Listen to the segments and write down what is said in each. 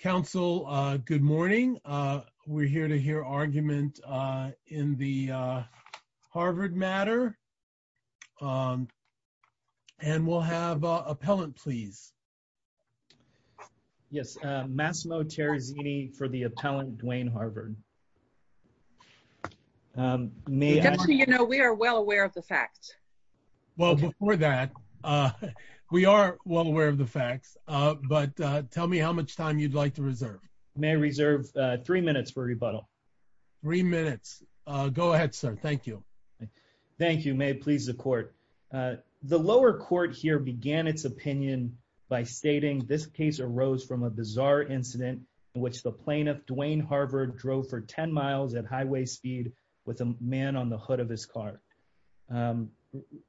Council, good morning. We're here to hear argument in the Harvard matter. And we'll have an appellant, please. Yes, Massimo Terzini for the appellant, Dwayne Harvard. Just so you know, we are well aware of the facts. Well, before that, we are well aware of the facts. But tell me how much time you'd like to reserve. May I reserve three minutes for rebuttal? Three minutes. Go ahead, sir. Thank you. Thank you. May it please the court. The lower court here began its opinion by stating this case arose from a bizarre incident in which the plaintiff, Dwayne Harvard, drove for 10 miles at highway speed with a man on the hood of his car.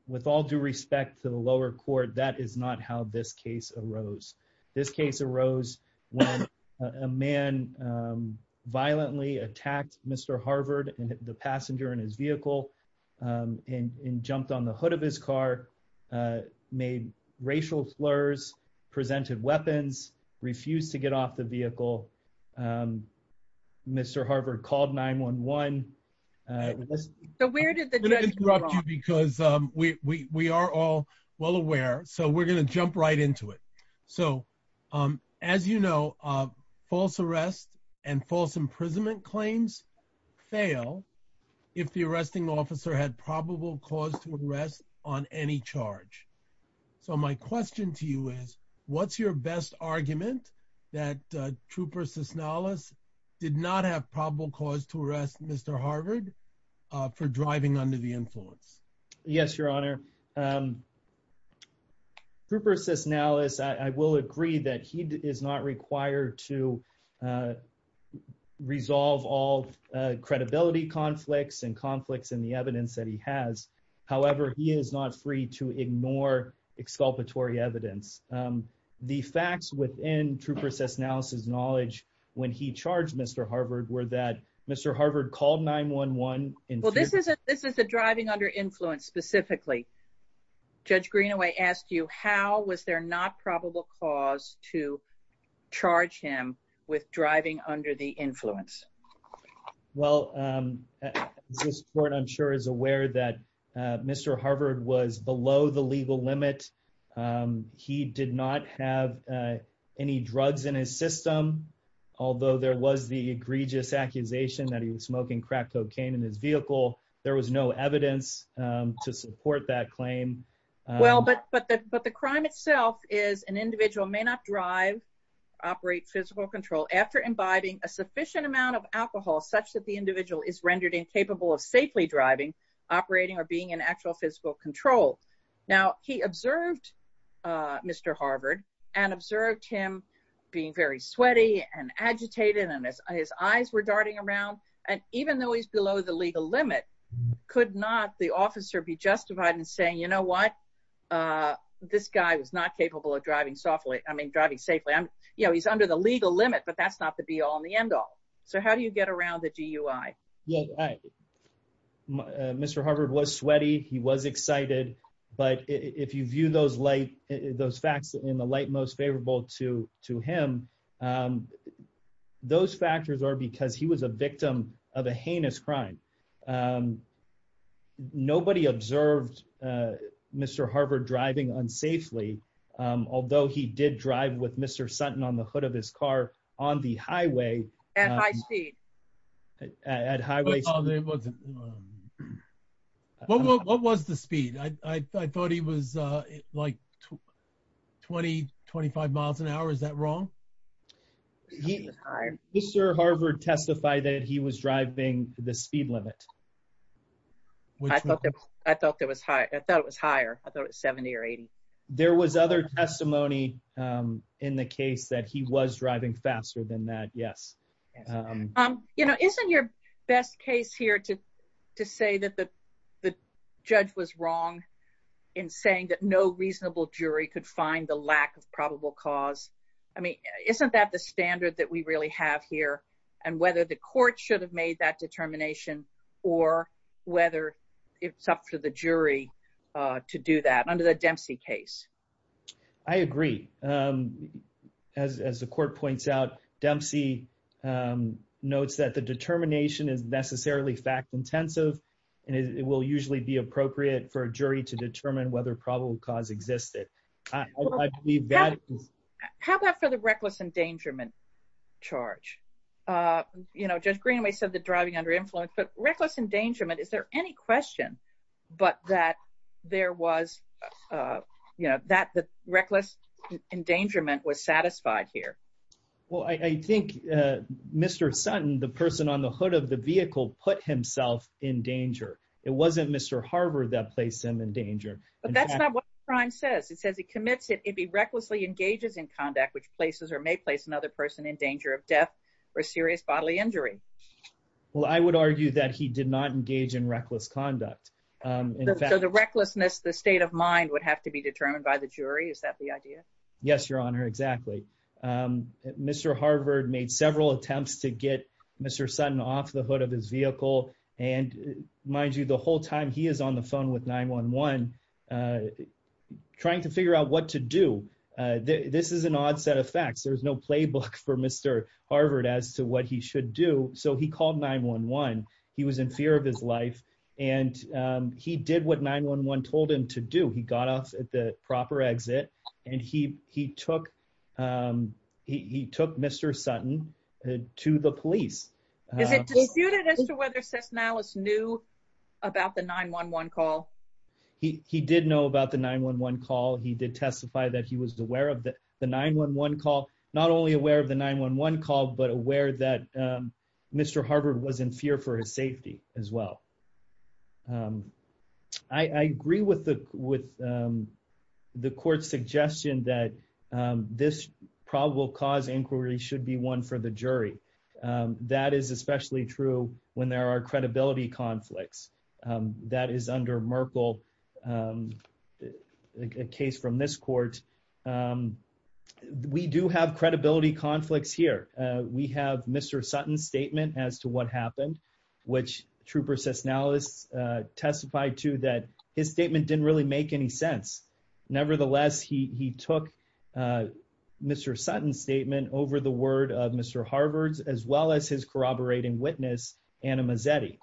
With all due respect to the lower court, that is not how this case arose. This case arose when a man violently attacked Mr. Harvard and the passenger in his vehicle and jumped on the hood of his car, made racial slurs, presented weapons, refused to get off the vehicle. Mr. Harvard called 911. So where did the judge come from? I'm going to interrupt you because we are all well aware. So we're going to jump right into it. So as you know, false arrest and false imprisonment claims fail if the arresting officer had probable cause to arrest on any charge. So my question to you is, what's your best argument that Trooper Cisnallis did not have probable cause to arrest Mr. Harvard for driving under the influence? Yes, Your Honor. Trooper Cisnallis, I will agree that he is not required to resolve all credibility conflicts and conflicts in the evidence that he has. However, he is not free to ignore exculpatory evidence. The facts within Trooper Cisnallis' knowledge when he charged Mr. Harvard were that Mr. Harvard called 911. Well, this is a driving under influence specifically. Judge Greenaway asked you, how was there not probable cause to charge him with driving under the influence? Well, this court, I'm sure, is aware that Mr. Harvard was below the legal limit. He did not have any drugs in his system. Although there was the egregious accusation that he was smoking crack cocaine in his vehicle, there was no evidence to support that claim. Well, but the crime itself is an individual may not drive, operate physical control after imbibing a sufficient amount of alcohol such that the individual is rendered incapable of safely driving, operating, or being in actual physical control. Now, he observed Mr. Harvard and observed him being very sweaty and agitated and his eyes were darting around. And even though he's below the legal limit, could not the officer be justified in saying, you know what, this guy was not capable of driving safely. He's under the legal limit, but that's not the be all and the end all. So how do you get around the DUI? Yeah, Mr. Harvard was sweaty. He was excited. But if you view those facts in the light most favorable to him, those factors are because he was a victim of a heinous crime. Nobody observed Mr. Harvard driving unsafely, although he did drive with Mr. Sutton on the hood of his car on the highway. At high speed. At highway speed. What was the speed? I thought he was like 20, 25 miles an hour. Is that wrong? Mr. Harvard testified that he was driving the speed limit. I thought it was higher. I thought it was 70 or 80. There was other testimony in the case that he was driving faster than that, yes. You know, isn't your best case here to say that the judge was wrong in saying that no reasonable jury could find the lack of probable cause? I mean, isn't that the standard that we really have here? And whether the court should have made that determination or whether it's up to the jury to do that under the Dempsey case? I agree. As the court points out, Dempsey notes that the determination is necessarily fact intensive and it will usually be appropriate for a jury to determine whether probable cause existed. How about for the reckless endangerment charge? You know, Judge Greenaway said that driving under influence, but reckless endangerment, is there any question but that there was, you know, that the reckless endangerment was satisfied here? Well, I think Mr. Sutton, the person on the hood of the vehicle, put himself in danger. It wasn't Mr. Harvard that placed him in danger. But that's not what the crime says. It says he commits it if he recklessly engages in conduct, which places or may place another person in danger of death or serious bodily injury. Well, I would argue that he did not engage in reckless conduct. So the recklessness, the state of mind would have to be determined by the jury? Is that the idea? Yes, Your Honor, exactly. Mr. Harvard made several attempts to get Mr. Sutton off the hood of his vehicle. And mind you, the whole time he is on the phone with 911, trying to figure out what to do. This is an odd set of facts. There's no playbook for Mr. Harvard as to what he should do. So he called 911. He was in fear of his life. And he did what 911 told him to do. He got off at the proper exit. And he took Mr. Sutton to the police. Is it disputed as to whether Cesnales knew about the 911 call? He did know about the 911 call. He did testify that he was aware of the 911 call. Not only aware of the 911 call, but aware that Mr. Harvard was in fear for his safety as well. I agree with the court's suggestion that this probable cause inquiry should be one for the jury. That is especially true when there are credibility conflicts. That is under Merkle, a case from this court. We do have credibility conflicts here. We have Mr. Sutton's statement as to what happened, which Trooper Cesnales testified to that his statement didn't really make any sense. Nevertheless, he took Mr. Sutton's statement over the word of Mr. Harvard's, as well as his corroborating witness, Anna Mazzetti.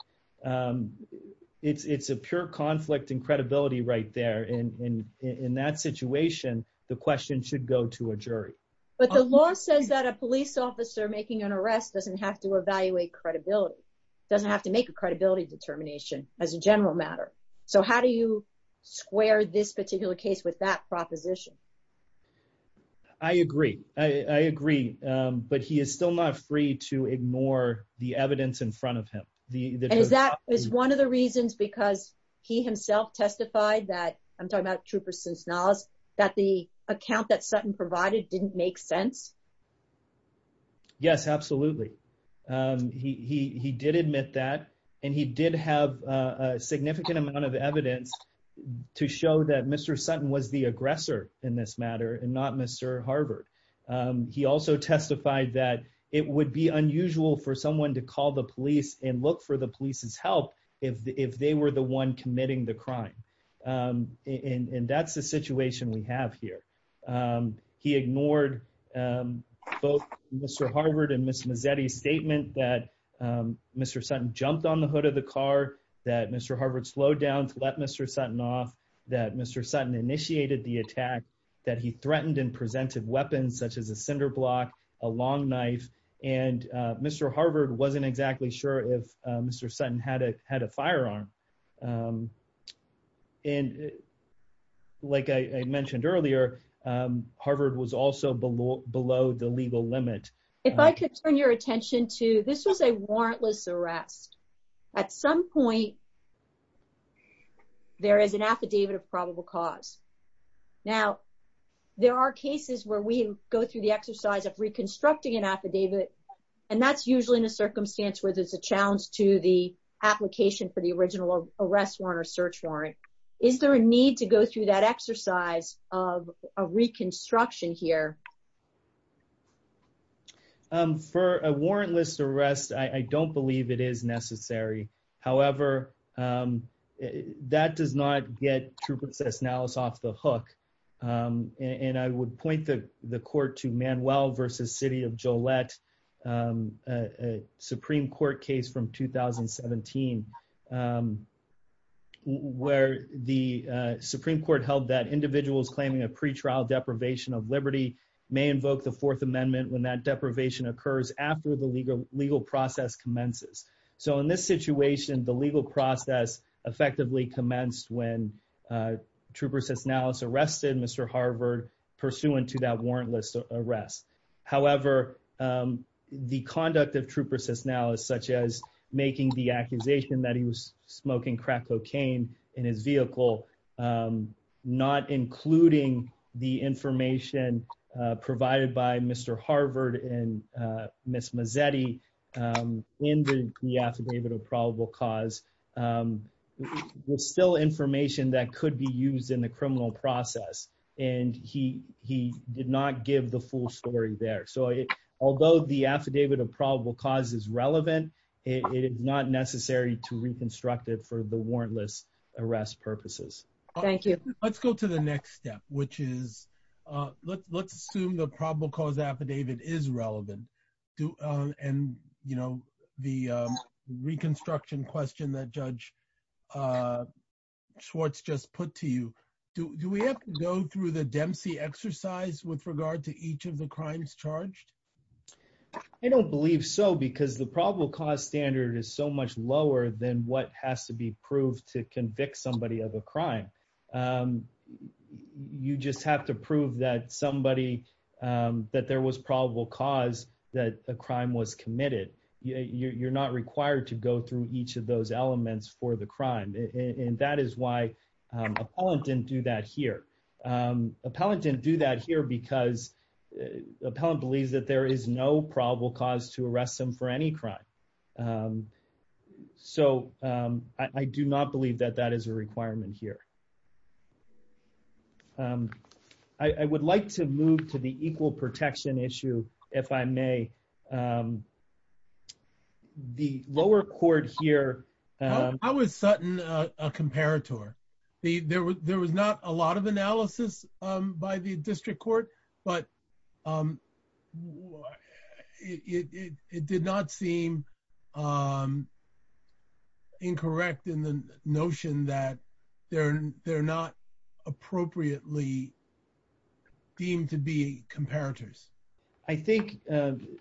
It's a pure conflict in credibility right there. And in that situation, the question should go to a jury. But the law says that a police officer making an arrest doesn't have to evaluate credibility. Doesn't have to make a credibility determination as a general matter. So how do you square this particular case with that proposition? I agree. I agree. But he is still not free to ignore the evidence in front of him. And is that is one of the reasons because he himself testified that, I'm talking about Trooper Cesnales, that the account that Sutton provided didn't make sense? Yes, absolutely. He did admit that. And he did have a significant amount of evidence to show that Mr. Sutton was the aggressor in this matter and not Mr. Harvard. He also testified that it would be unusual for someone to call the police and look for the police's help if they were the one committing the crime. And that's the situation we have here. He ignored both Mr. Harvard and Ms. Mazzetti's statement that Mr. Sutton jumped on the hood of the car. That Mr. Harvard slowed down to let Mr. Sutton off. That Mr. Sutton initiated the attack. That he threatened and presented weapons such as a cinder block, a long knife. And Mr. Harvard wasn't exactly sure if Mr. Sutton had a firearm. And like I mentioned earlier, Harvard was also below the legal limit. If I could turn your attention to, this was a warrantless arrest. At some point, there is an affidavit of probable cause. Now, there are cases where we go through the exercise of reconstructing an affidavit. And that's usually in a circumstance where there's a challenge to the application for the original arrest warrant or search warrant. Is there a need to go through that exercise of a reconstruction here? For a warrantless arrest, I don't believe it is necessary. However, that does not get Trupan Sesnales off the hook. And I would point the court to Manuel v. City of Gillette, a Supreme Court case from 2017 where the Supreme Court held that individuals claiming a pretrial deprivation of liberty may invoke the Fourth Amendment when that deprivation occurs after the legal process commences. So in this situation, the legal process effectively commenced when Trupan Sesnales arrested Mr. Harvard pursuant to that warrantless arrest. However, the conduct of Trupan Sesnales, such as making the accusation that he was smoking crack cocaine in his vehicle, not including the information provided by Mr. Harvard and Ms. Mazzetti in the affidavit of probable cause, was still information that could be used in the criminal process. And he did not give the full story there. So although the affidavit of probable cause is relevant, it is not necessary to reconstruct it for the warrantless arrest purposes. Thank you. Let's go to the next step, which is let's assume the probable cause affidavit is relevant. And the reconstruction question that Judge Schwartz just put to you, do we have to go through the Dempsey exercise with regard to each of the crimes charged? I don't believe so, because the probable cause standard is so much lower than what has to be proved to convict somebody of a crime. You just have to prove that somebody, that there was probable cause that a crime was committed. You're not required to go through each of those elements for the crime. And that is why appellant didn't do that here. Appellant didn't do that here because appellant believes that there is no probable cause to arrest him for any crime. So I do not believe that that is a requirement here. I would like to move to the equal protection issue, if I may. The lower court here. How is Sutton a comparator? There was not a lot of analysis by the district court, but it did not seem incorrect in the notion that they're not appropriately deemed to be comparators. I think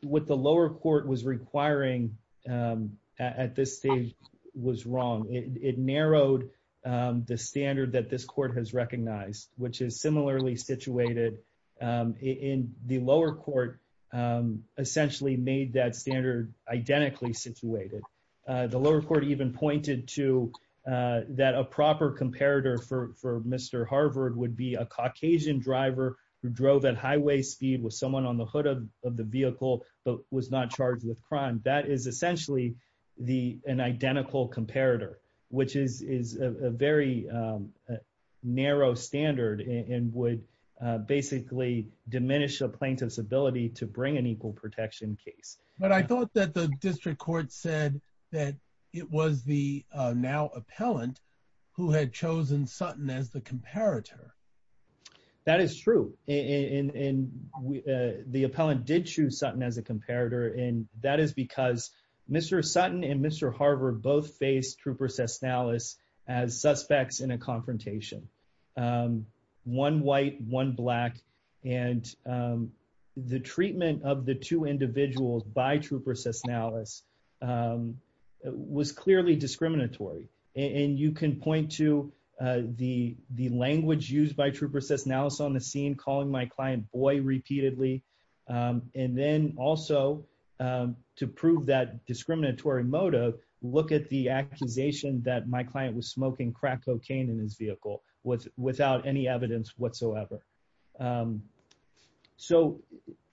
what the lower court was requiring at this stage was wrong. It narrowed the standard that this court has recognized, which is similarly situated. The lower court essentially made that standard identically situated. The lower court even pointed to that a proper comparator for Mr. Harvard would be a Caucasian driver who drove at highway speed with someone on the hood of the vehicle, but was not charged with crime. That is essentially an identical comparator, which is a very narrow standard and would basically diminish a plaintiff's ability to bring an equal protection case. But I thought that the district court said that it was the now appellant who had chosen Sutton as the comparator. That is true. The appellant did choose Sutton as a comparator, and that is because Mr. Sutton and Mr. Harvard both faced Trooper Sesnalis as suspects in a confrontation. One white, one black, and the treatment of the two individuals by Trooper Sesnalis was clearly discriminatory. And you can point to the language used by Trooper Sesnalis on the scene calling my client boy repeatedly. And then also to prove that discriminatory motive, look at the accusation that my client was smoking crack cocaine in his vehicle without any evidence whatsoever. So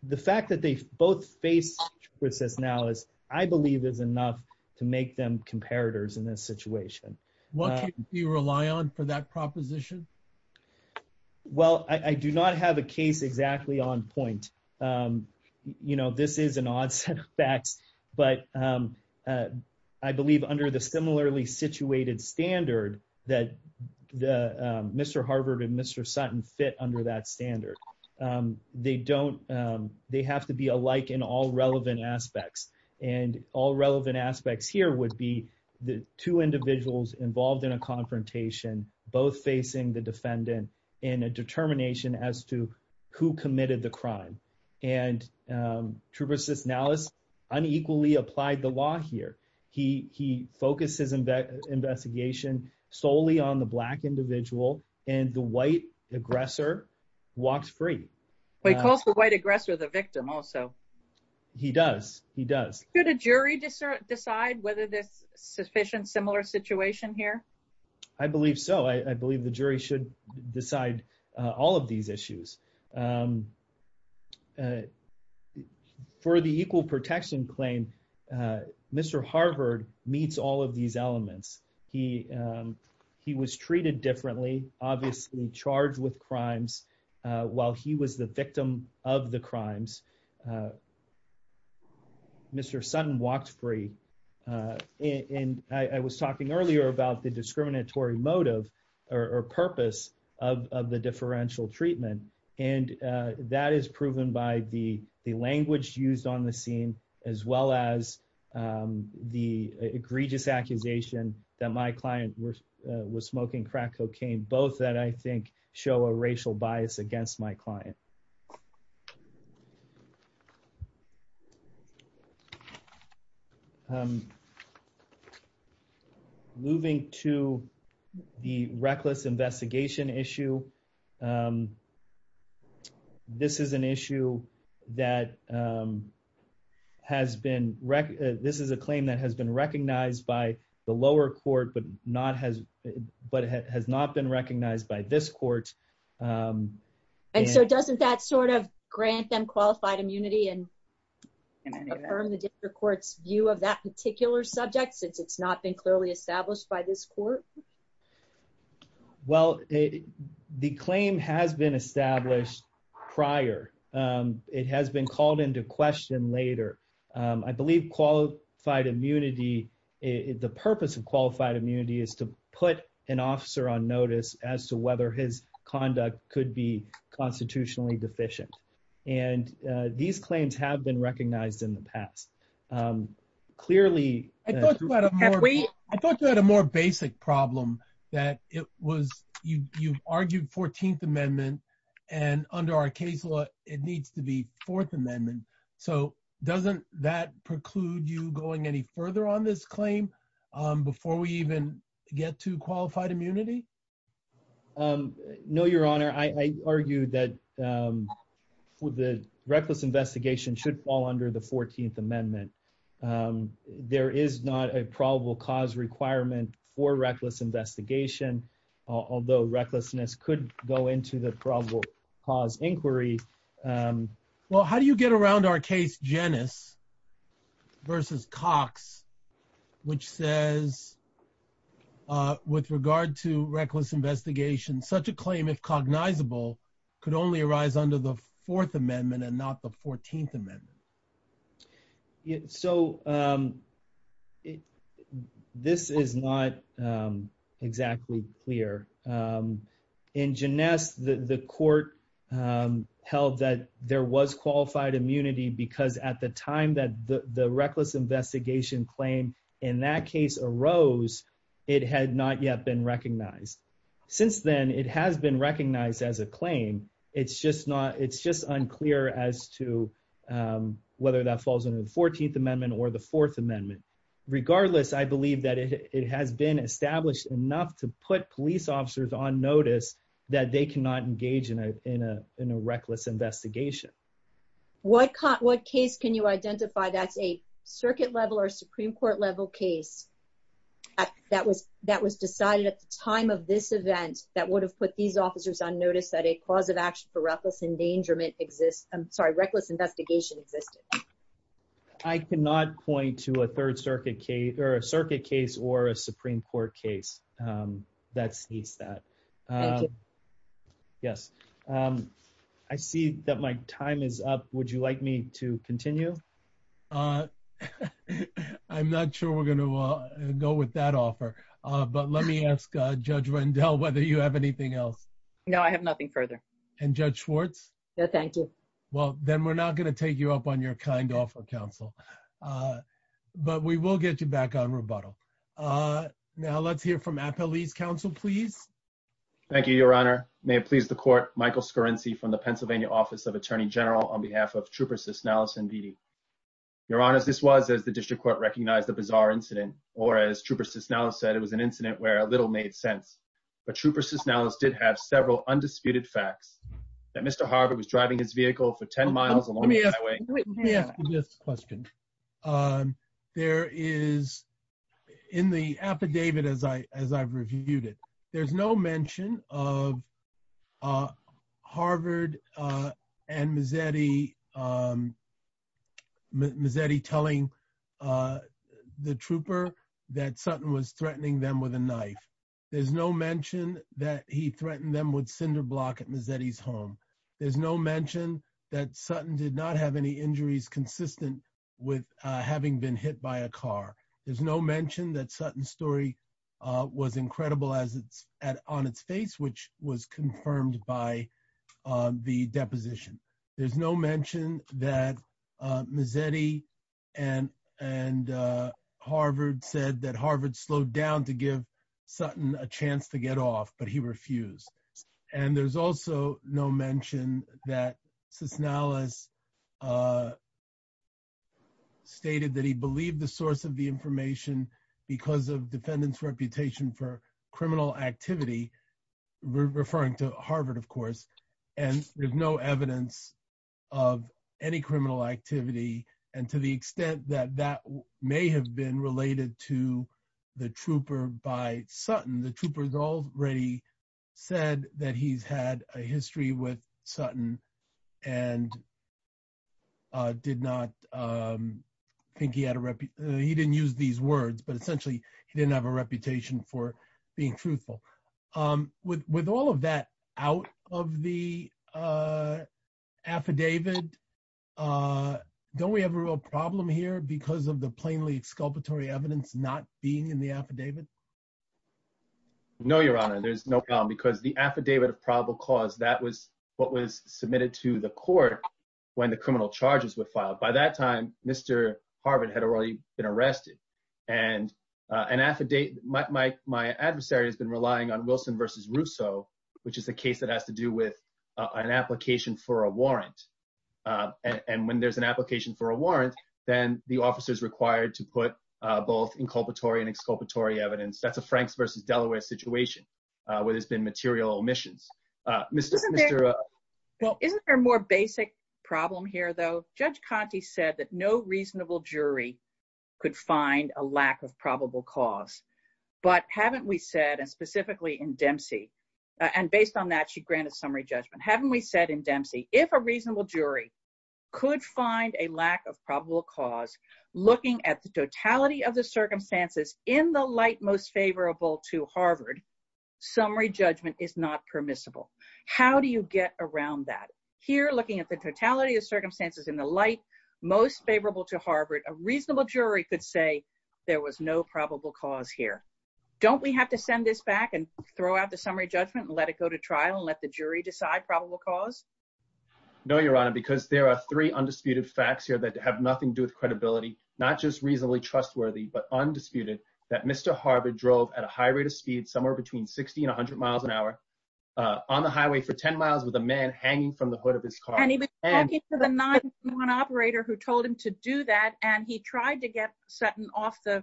the fact that they both faced Trooper Sesnalis, I believe is enough to make them What can you rely on for that proposition? Well, I do not have a case exactly on point. You know, this is an odd set of facts, but I believe under the similarly situated standard that Mr. Harvard and Mr. Sutton fit under that standard, they don't, they have to be alike in all relevant aspects. And all relevant aspects here would be the two individuals involved in a confrontation, both facing the defendant in a determination as to who committed the crime. And Trooper Sesnalis unequally applied the law here. He focused his investigation solely on the black individual, and the white aggressor walks free. He calls the white aggressor the victim also. He does. He does. Could a jury decide whether this sufficient similar situation here? I believe so. I believe the jury should decide all of these issues. For the equal protection claim, Mr. Harvard meets all of these elements. He was treated differently, obviously charged with crimes while he was the victim of the crime. Mr. Sutton walked free. I was talking earlier about the discriminatory motive or purpose of the differential treatment. And that is proven by the language used on the scene, as well as the egregious accusation that my client was smoking crack cocaine, both that I think show a racial bias against my client. Moving to the reckless investigation issue, this is an issue that has been, this is a claim that has been recognized by the lower court, but not has, but has not been recognized by this court. And so doesn't that sort of grant them qualified immunity and affirm the district court's view of that particular subject since it's not been clearly established by this court? Well, the claim has been established prior. It has been called into question later. I believe qualified immunity, the purpose of qualified immunity is to put an officer on notice as to whether his conduct could be constitutionally deficient. And these claims have been recognized in the past. Clearly, I thought you had a more basic problem that it was, you argued 14th amendment and under our case law, it needs to be fourth amendment. So doesn't that preclude you going any further on this claim before we even get to qualified immunity? No, your honor, I argue that for the reckless investigation should fall under the 14th amendment. There is not a probable cause requirement for reckless investigation, although recklessness could go into the probable cause inquiry. Well, how do you get around our case? Janice versus Cox, which says with regard to reckless investigation, such a claim if cognizable could only arise under the fourth amendment and not the 14th amendment. So this is not exactly clear. In Janice, the court held that there was qualified immunity because at the time that the reckless investigation claim in that case arose, it had not yet been recognized. Since then, it has been recognized as a claim. It's just not, it's just unclear as to whether that falls under the 14th amendment or the fourth amendment. Regardless, I believe that it has been established enough to put police officers on notice that they cannot engage in a reckless investigation. What case can you identify that's a circuit level or Supreme Court level case that was decided at the time of this event that would have put these officers on notice that a cause of action for reckless endangerment exists? I'm sorry, reckless investigation existed. I cannot point to a third circuit case or a circuit case or a Supreme Court case that states that. Yes, I see that my time is up. Would you like me to continue? I'm not sure we're going to go with that offer, but let me ask Judge Rendell whether you have anything else. No, I have nothing further. And Judge Schwartz? No, thank you. Well, then we're not going to take you up on your kind offer, counsel. But we will get you back on rebuttal. Now, let's hear from Appellee's counsel, please. Thank you, Your Honor. May it please the court, Michael Scarrinci from the Pennsylvania Office of Attorney General on behalf of Trooper Cisnallis and Vidi. Your Honor, this was, as the district court recognized, a bizarre incident, or as Trooper Cisnallis said, it was an incident where little made sense. But Trooper Cisnallis did have several undisputed facts that Mr. Harvard was driving his vehicle for 10 miles along the highway. Let me ask you this question. There is, in the affidavit as I've reviewed it, there's no mention of Harvard and Mazzetti telling the trooper that Sutton was threatening them with a knife. There's no mention that he threatened them with cinderblock at Mazzetti's home. There's no mention that Sutton did not have any injuries consistent with having been hit by a car. There's no mention that Sutton's story was incredible on its face, which was confirmed by the deposition. There's no mention that Mazzetti and Harvard said that Harvard slowed down to give Sutton a chance to get off, but he refused. And there's also no mention that Cisnallis stated that he believed the source of the information because of defendants' reputation for criminal activity, referring to Harvard, of course, and there's no evidence of any criminal activity. And to the extent that that may have been related to the trooper by Sutton, the trooper already said that he's had a history with Sutton and did not think he had a reputation, he didn't use these words, but essentially he didn't have a reputation for being truthful. With all of that out of the affidavit, don't we have a real problem here because of the plainly exculpatory evidence not being in the affidavit? No, Your Honor, there's no problem because the affidavit of probable cause, that was what was submitted to the court when the criminal charges were filed. By that time, Mr. Harvard had already been arrested and my adversary has been relying on Wilson v. Russo, which is a case that has to do with an application for a warrant. And when there's an application for a warrant, then the officer's required to put both inculpatory and exculpatory evidence. That's a Franks v. Delaware situation where there's been material omissions. Well, isn't there a more basic problem here, though? Judge Conte said that no reasonable jury could find a lack of probable cause, but haven't we said, and specifically in Dempsey, and based on that, she granted summary judgment, haven't we said in Dempsey, if a reasonable jury could find a lack of probable cause, looking at the totality of the circumstances in the light most favorable to Harvard, summary judgment is not permissible. How do you get around that? Here, looking at the totality of circumstances in the light most favorable to Harvard, a reasonable jury could say there was no probable cause here. Don't we have to send this back and throw out the summary judgment and let it go to trial and let the jury decide probable cause? No, Your Honor, because there are three undisputed facts here that have nothing to do with not just reasonably trustworthy, but undisputed, that Mr. Harvard drove at a high rate of speed, somewhere between 60 and 100 miles an hour on the highway for 10 miles with a man hanging from the hood of his car. And he was talking to the 911 operator who told him to do that, and he tried to get Sutton off the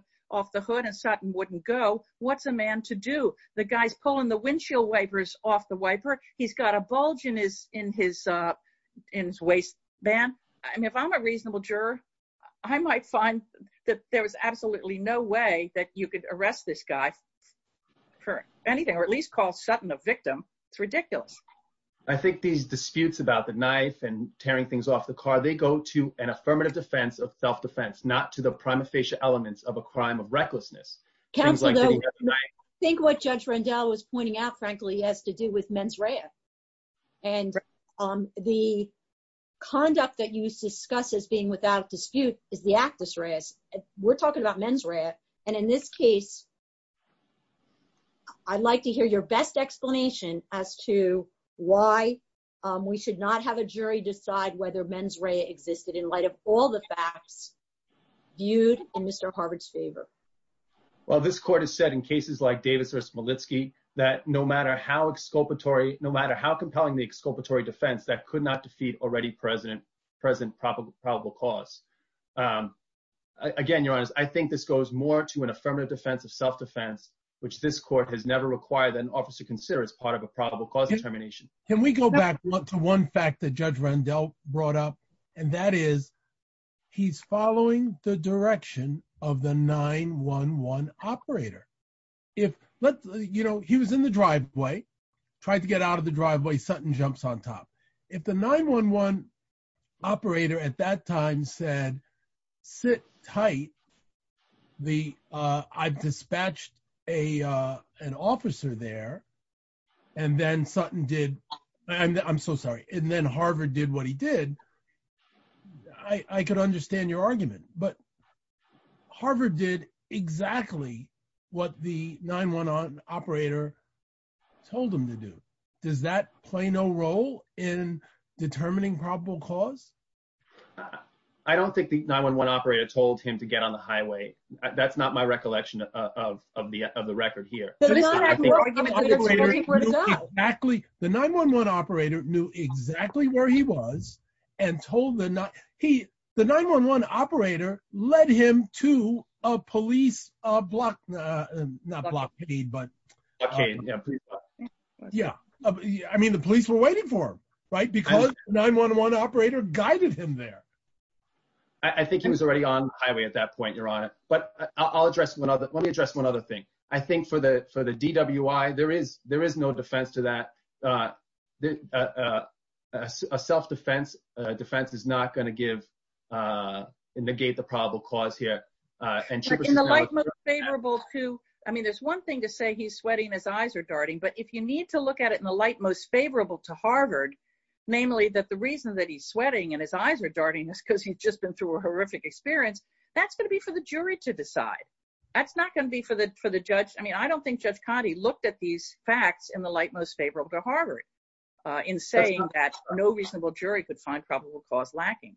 hood and Sutton wouldn't go. What's a man to do? The guy's pulling the windshield wipers off the wiper. He's got a bulge in his waistband. If I'm a reasonable juror, I might find that there was absolutely no way that you could arrest this guy for anything, or at least call Sutton a victim. It's ridiculous. I think these disputes about the knife and tearing things off the car, they go to an affirmative defense of self-defense, not to the prima facie elements of a crime of recklessness. Counsel, though, I think what Judge Rendell was pointing out, frankly, has to do with mens rea. And the conduct that you discuss as being without dispute is the actus reas. We're talking about mens rea. And in this case, I'd like to hear your best explanation as to why we should not have a jury decide whether mens rea existed in light of all the facts viewed in Mr. Harvard's favor. Well, this court has said in cases like Davis v. Malitsky that no matter how compelling the exculpatory defense, that could not defeat already present probable cause. Again, Your Honors, I think this goes more to an affirmative defense of self-defense, which this court has never required that an officer consider as part of a probable cause determination. Can we go back to one fact that Judge Rendell brought up? And that is, he's following the direction of the 9-1-1 operator. He was in the driveway, tried to get out of the driveway, Sutton jumps on top. If the 9-1-1 operator at that time said, sit tight, I've dispatched an officer there, and then Harvard did what he did, I could understand your argument. But Harvard did exactly what the 9-1-1 operator told him to do. Does that play no role in determining probable cause? I don't think the 9-1-1 operator told him to get on the highway. That's not my recollection of the record here. The 9-1-1 operator knew exactly where he was. The 9-1-1 operator led him to a police blockade. I mean, the police were waiting for him, right? Because the 9-1-1 operator guided him there. I think he was already on highway at that point, Your Honor. But let me address one other thing. I think for the DWI, there is no defense to that. A self-defense defense is not going to negate the probable cause here. I mean, there's one thing to say he's sweating, his eyes are darting. But if you need to look at it in the light most favorable to Harvard, namely that the reason that he's sweating and his eyes are darting is because he's just been through a horrific experience, that's going to be for the jury to decide. That's not going to be for the judge. I mean, I don't think Judge Coddy looked at these facts in the light most favorable to Harvard in saying that no reasonable jury could find probable cause lacking.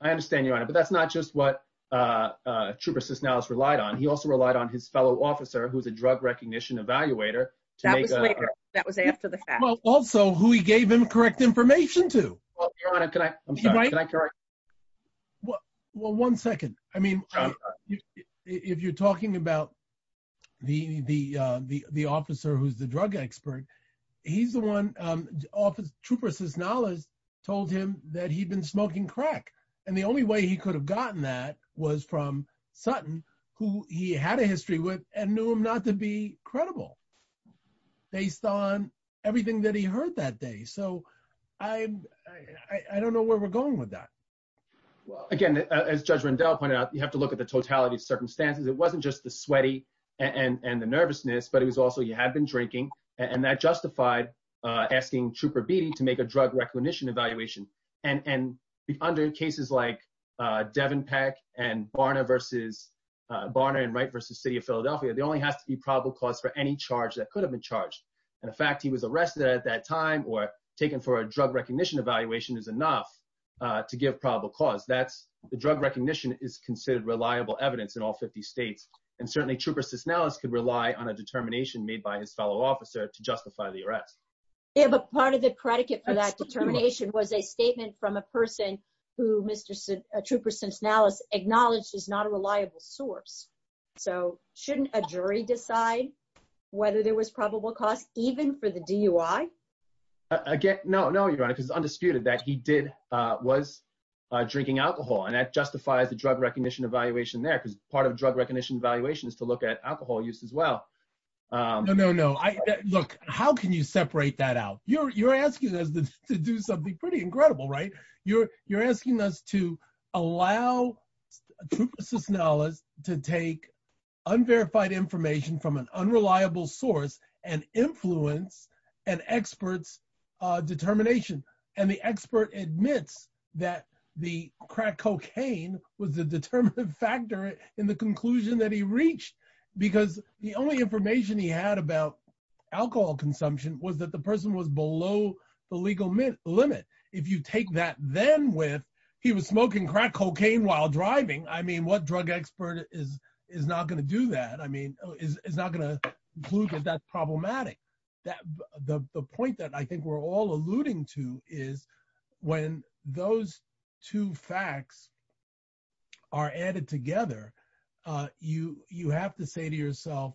I understand, Your Honor. But that's not just what Trooper Cisnallis relied on. He also relied on his fellow officer, who's a drug recognition evaluator, to make a- That was later. That was after the fact. Well, also, who he gave him correct information to. Well, Your Honor, can I? I'm sorry. Can I correct? Well, one second. I mean, if you're talking about the officer who's the drug expert, he's the one Trooper Cisnallis told him that he'd been smoking crack. And the only way he could have gotten that was from Sutton, who he had a history with and knew him not to be credible based on everything that he heard that day. So I don't know where we're going with that. Again, as Judge Rendell pointed out, you have to look at the totality of circumstances. It wasn't just the sweaty and the nervousness, but it was also you had been drinking, and that justified asking Trooper Beatty to make a drug recognition evaluation. And under cases like Devenpeck and Barna and Wright versus City of Philadelphia, there only has to be probable cause for any charge that could have been charged. And the fact he was arrested at that time or taken for a drug recognition evaluation is enough to give probable cause. That's the drug recognition is considered reliable evidence in all 50 states. And certainly Trooper Cisnallis could rely on a determination made by his fellow officer to justify the arrest. Yeah, but part of the predicate for that determination was a statement from a person who Mr. Trooper Cisnallis acknowledged is not a reliable source. So shouldn't a jury decide whether there was probable cause even for the DUI? Again, no, no, Your Honor, because it's undisputed that he did, was drinking alcohol, and that justifies the drug recognition evaluation there, because part of drug recognition evaluation is to look at alcohol use as well. No, no, no. Look, how can you separate that out? You're asking us to do something pretty incredible, right? You're asking us to allow Trooper Cisnallis to take unverified information from an unreliable source and influence an expert's determination. And the expert admits that the crack cocaine was the determinative factor in the conclusion that he reached, because the only information he had about alcohol consumption was that the person was below the legal limit. If you take that then with, he was smoking crack cocaine while driving. I mean, what drug expert is not going to do that? Is not going to conclude that that's problematic. The point that I think we're all alluding to is when those two facts are added together, you have to say to yourself,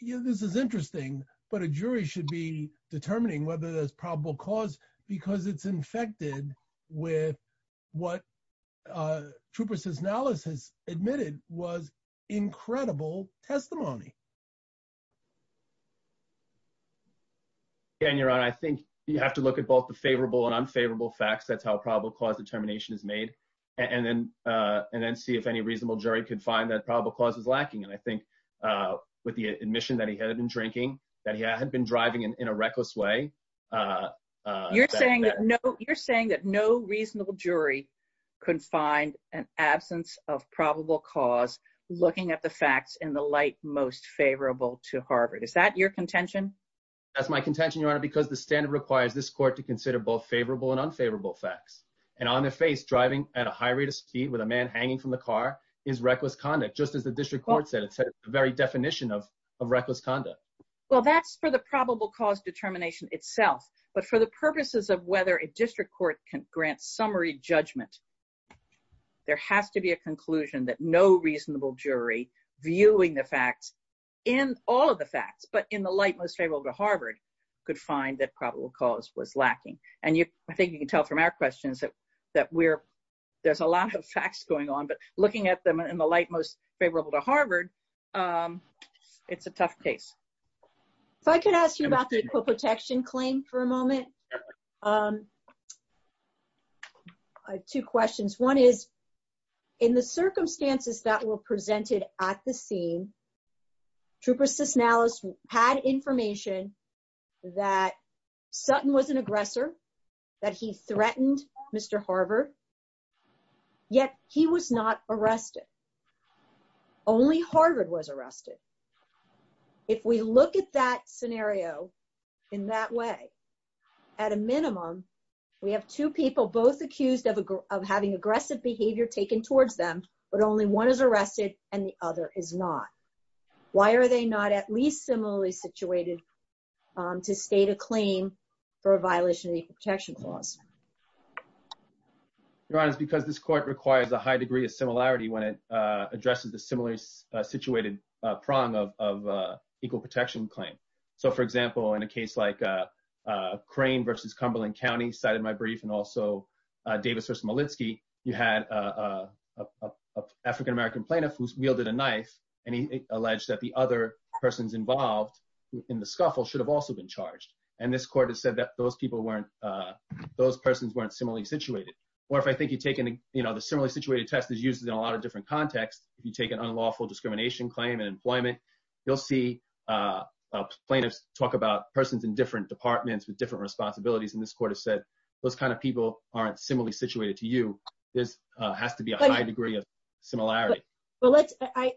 yeah, this is interesting, but a jury should be determining whether there's probable cause because it's infected with what Trooper Cisnallis has admitted was incredible testimony. Daniel, I think you have to look at both the favorable and unfavorable facts. That's how probable cause determination is made. And then see if any reasonable jury could find that probable cause is lacking. And I think with the admission that he had been drinking, that he had been driving in a reckless way. Uh, uh, you're saying that no, you're saying that no reasonable jury could find an absence of probable cause looking at the facts in the light most favorable to Harvard. Is that your contention? That's my contention, Your Honor, because the standard requires this court to consider both favorable and unfavorable facts. And on their face driving at a high rate of speed with a man hanging from the car is reckless conduct. Just as the district court said, it's the very definition of reckless conduct. Well, that's for the probable cause determination itself, but for the purposes of whether a district court can grant summary judgment, there has to be a conclusion that no reasonable jury viewing the facts in all of the facts, but in the light most favorable to Harvard could find that probable cause was lacking. And you, I think you can tell from our questions that, that we're, there's a lot of facts going on, but looking at them in the light most favorable to Harvard, um, it's a tough case. If I could ask you about the Equal Protection Claim for a moment. Two questions. One is, in the circumstances that were presented at the scene, Trooper Cisnallis had information that Sutton was an aggressor, that he threatened Mr. Harvard, yet he was not arrested. Only Harvard was arrested. If we look at that scenario in that way, at a minimum, we have two people both accused of, of having aggressive behavior taken towards them, but only one is arrested and the other is not. Why are they not at least similarly situated to state a claim for a violation of the protection clause? Your Honor, it's because this court requires a high degree of similarity when it addresses the similarly situated prong of, of Equal Protection Claim. So for example, in a case like Crane versus Cumberland County, cited in my brief, and also Davis v. Molitsky, you had an African-American plaintiff who wielded a knife and he alleged that the other persons involved in the scuffle should have also been charged. And this court has said that those people weren't, Or if I think you've taken, you know, the similarly situated test is used in a lot of different contexts. If you take an unlawful discrimination claim in employment, you'll see plaintiffs talk about persons in different departments with different responsibilities. And this court has said, those kinds of people aren't similarly situated to you. This has to be a high degree of similarity. But let's,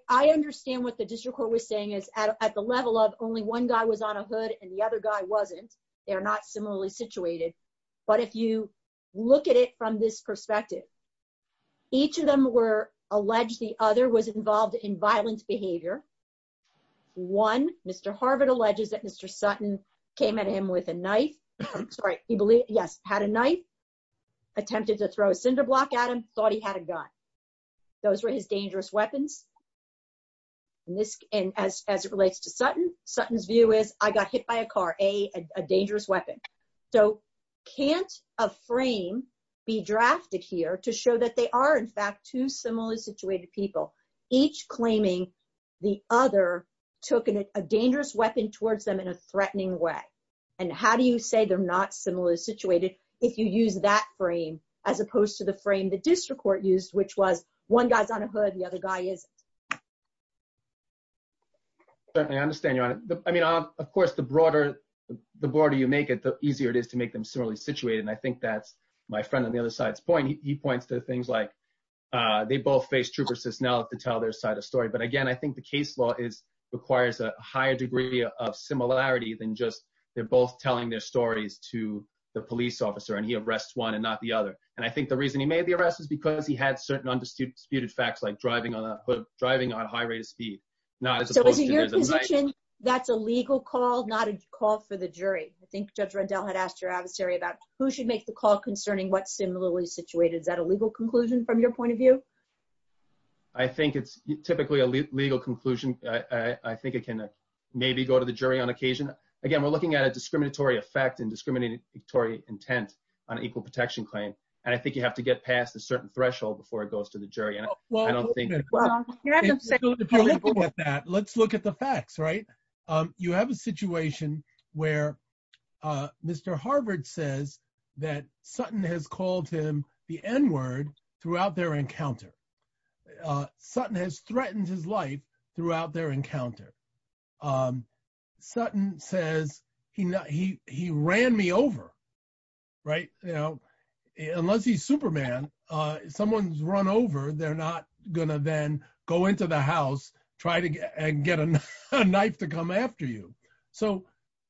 I understand what the district court was saying is at the level of only one guy was on a hood and the other guy wasn't, they're not similarly situated. But if you look at it from this perspective, each of them were alleged, the other was involved in violent behavior. One, Mr. Harvard alleges that Mr. Sutton came at him with a knife. Sorry, he believed, yes, had a knife, attempted to throw a cinder block at him, thought he had a gun. Those were his dangerous weapons. And as it relates to Sutton, Sutton's view is I got hit by a car, A, a dangerous weapon. So can't a frame be drafted here to show that they are in fact, two similarly situated people, each claiming the other took a dangerous weapon towards them in a threatening way. And how do you say they're not similarly situated if you use that frame, as opposed to the frame the district court used, which was one guy's on a hood, the other guy isn't. I understand, Your Honor. I mean, of course, the broader you make it, the easier it is to make them similarly situated. And I think that's my friend on the other side's point. He points to things like, they both faced troopers to tell their side of the story. But again, I think the case law is, requires a higher degree of similarity than just they're both telling their stories to the police officer and he arrests one and not the other. And I think the reason he made the arrest is because he had certain undisputed facts like driving on a hood, driving on high rate of speed. Not as opposed to- So is it your position that's a legal call, not a call for the jury? I think Judge Rendell had asked your adversary about who should make the call concerning what's similarly situated. Is that a legal conclusion from your point of view? I think it's typically a legal conclusion. I think it can maybe go to the jury on occasion. Again, we're looking at a discriminatory effect and discriminatory intent on equal protection claim. And I think you have to get past a certain threshold before it goes to the jury. And I don't think- Well, you have to say- If you're looking at that, let's look at the facts, right? You have a situation where Mr. Harvard says that Sutton has called him the N-word throughout their encounter. Sutton has threatened his life throughout their encounter. Sutton says, he ran me over, right? Unless he's Superman, someone's run over, they're not gonna then go into the house, try to get a knife to come after you. So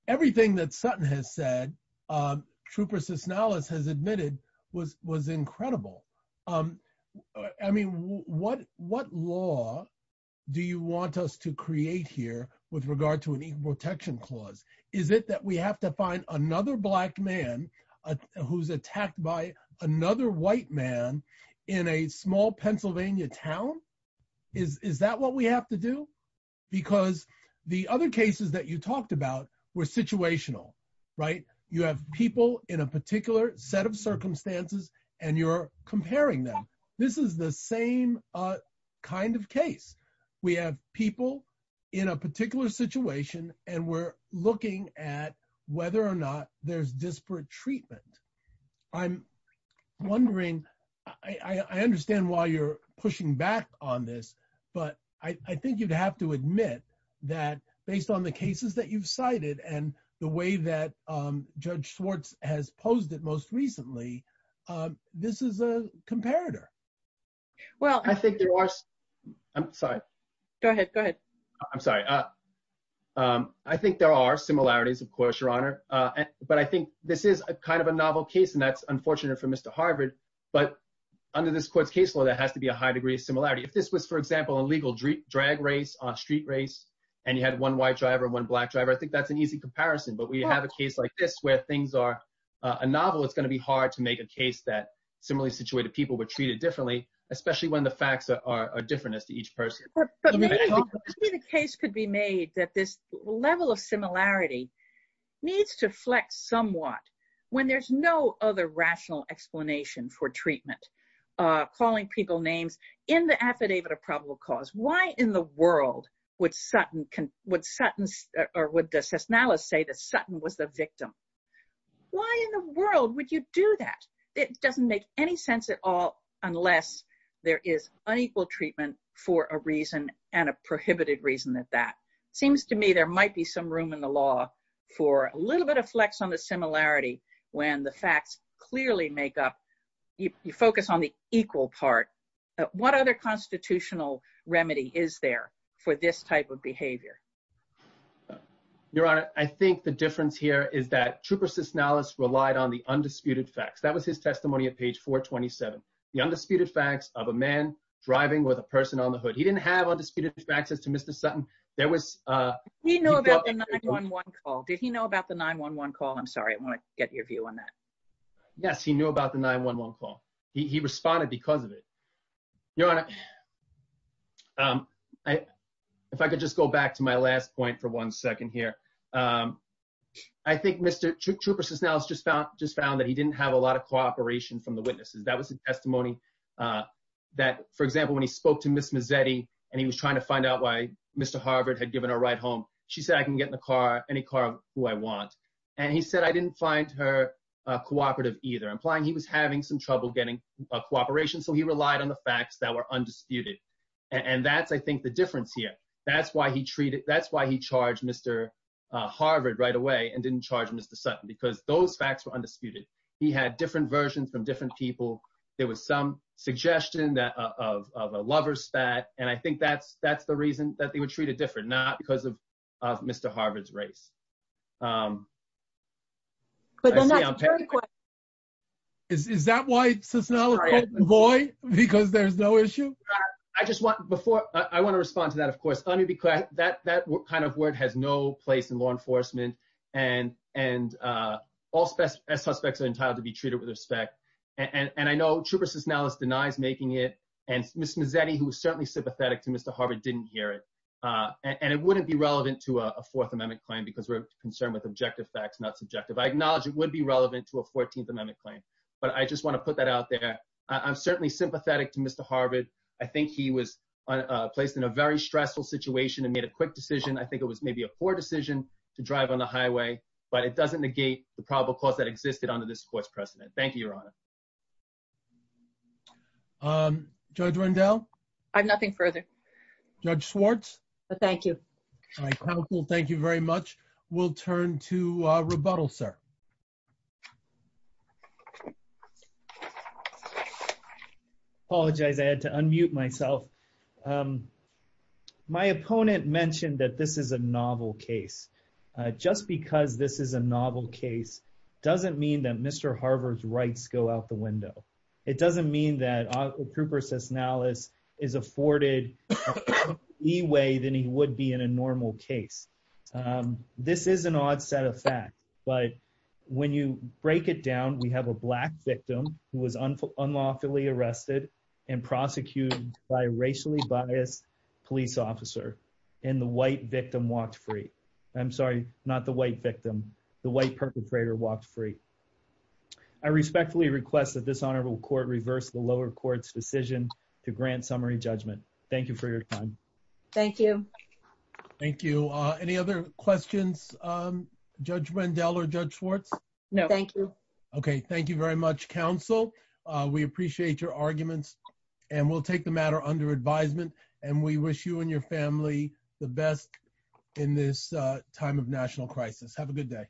everything that Sutton has said, Trooper Cisnallis has admitted was incredible. I mean, what law do you want us to create here with regard to an equal protection clause? Is it that we have to find another black man who's attacked by another white man in a small Pennsylvania town? Is that what we have to do? Because the other cases that you talked about were situational, right? You have people in a particular set of circumstances and you're comparing them. This is the same kind of case. We have people in a particular situation and we're looking at whether or not there's disparate treatment. I'm wondering, I understand why you're pushing back on this, but I think you'd have to admit that based on the cases that you've cited and the way that Judge Schwartz has posed it most recently, this is a comparator. Well, I think there are... I'm sorry. Go ahead, go ahead. I'm sorry. I think there are similarities, of course, Your Honor. But I think this is a kind of a novel case and that's unfortunate for Mr. Harvard. But under this court's case law, there has to be a high degree of similarity. If this was, for example, a legal drag race, a street race, and you had one white driver, one black driver, I think that's an easy comparison. But when you have a case like this, where things are a novel, it's going to be hard to make a case that similarly situated people were treated differently, especially when the facts are different as to each person. But maybe the case could be made that this level of similarity needs to flex somewhat when there's no other rational explanation for treatment, calling people names in the affidavit of probable cause. Why in the world would Sutton... Or would De Cisnallis say that Sutton was the victim? Why in the world would you do that? It doesn't make any sense at all unless there is unequal treatment for a reason and a prohibited reason at that. Seems to me there might be some room in the law for a little bit of flex on the similarity when the facts clearly make up... You focus on the equal part. What other constitutional remedy is there for this type of behavior? Your Honor, I think the difference here is that Trooper Cisnallis relied on the undisputed facts. That was his testimony at page 427. The undisputed facts of a man driving with a person on the hood. He didn't have undisputed facts as to Mr. Sutton. There was... Did he know about the 911 call? Did he know about the 911 call? I'm sorry, I want to get your view on that. Yes, he knew about the 911 call. He responded because of it. Your Honor, if I could just go back to my last point for one second here. I think Mr. Trooper Cisnallis just found that he didn't have a lot of cooperation from the witnesses. That was a testimony that, for example, when he spoke to Ms. Mazzetti and he was trying to find out why Mr. Harvard had given her a ride home, she said, I can get in the car, any car who I want. And he said, I didn't find her cooperative either, implying he was having some trouble getting cooperation. So he relied on the facts that were undisputed. And that's, I think, the difference here. That's why he treated, that's why he charged Mr. Harvard right away and didn't charge Mr. Sutton, because those facts were undisputed. He had different versions from different people. There was some suggestion of a lover's spat. And I think that's the reason that they were treated different, not because of Mr. Harvard's race. Is that why Cisnallis called him boy? Because there's no issue? I just want, before, I want to respond to that, of course. That kind of word has no place in law enforcement. And all suspects are entitled to be treated with respect. And I know Trooper Cisnallis denies making it. And Ms. Mazzetti, who was certainly sympathetic to Mr. Harvard, didn't hear it. And it wouldn't be relevant to a Fourth Amendment claim because we're concerned with objective facts, not subjective. I acknowledge it would be relevant to a 14th Amendment claim. But I just want to put that out there. I'm certainly sympathetic to Mr. Harvard. I think he was placed in a very stressful situation and made a quick decision. I think it was maybe a poor decision to drive on the highway, but it doesn't negate the probable cause that existed under this Court's precedent. Thank you, Your Honor. Judge Rendell? I have nothing further. Judge Schwartz? All right, counsel, thank you very much. We'll turn to rebuttal, sir. Apologize, I had to unmute myself. My opponent mentioned that this is a novel case. Just because this is a novel case doesn't mean that Mr. Harvard's rights go out the window. It doesn't mean that Trooper Cisnallis is afforded a better leeway than he would be in a normal case. but I think it's important to understand when you break it down, we have a black victim who was unlawfully arrested and prosecuted by a racially biased police officer and the white victim walked free. I'm sorry, not the white victim, the white perpetrator walked free. I respectfully request that this honorable court reverse the lower court's decision to grant summary judgment. Thank you for your time. Thank you. Thank you. Any other questions, Judge Rendell or Judge Schwartz? Thank you. Okay, thank you very much, counsel. We appreciate your arguments and we'll take the matter under advisement and we wish you and your family the best in this time of national crisis. Have a good day.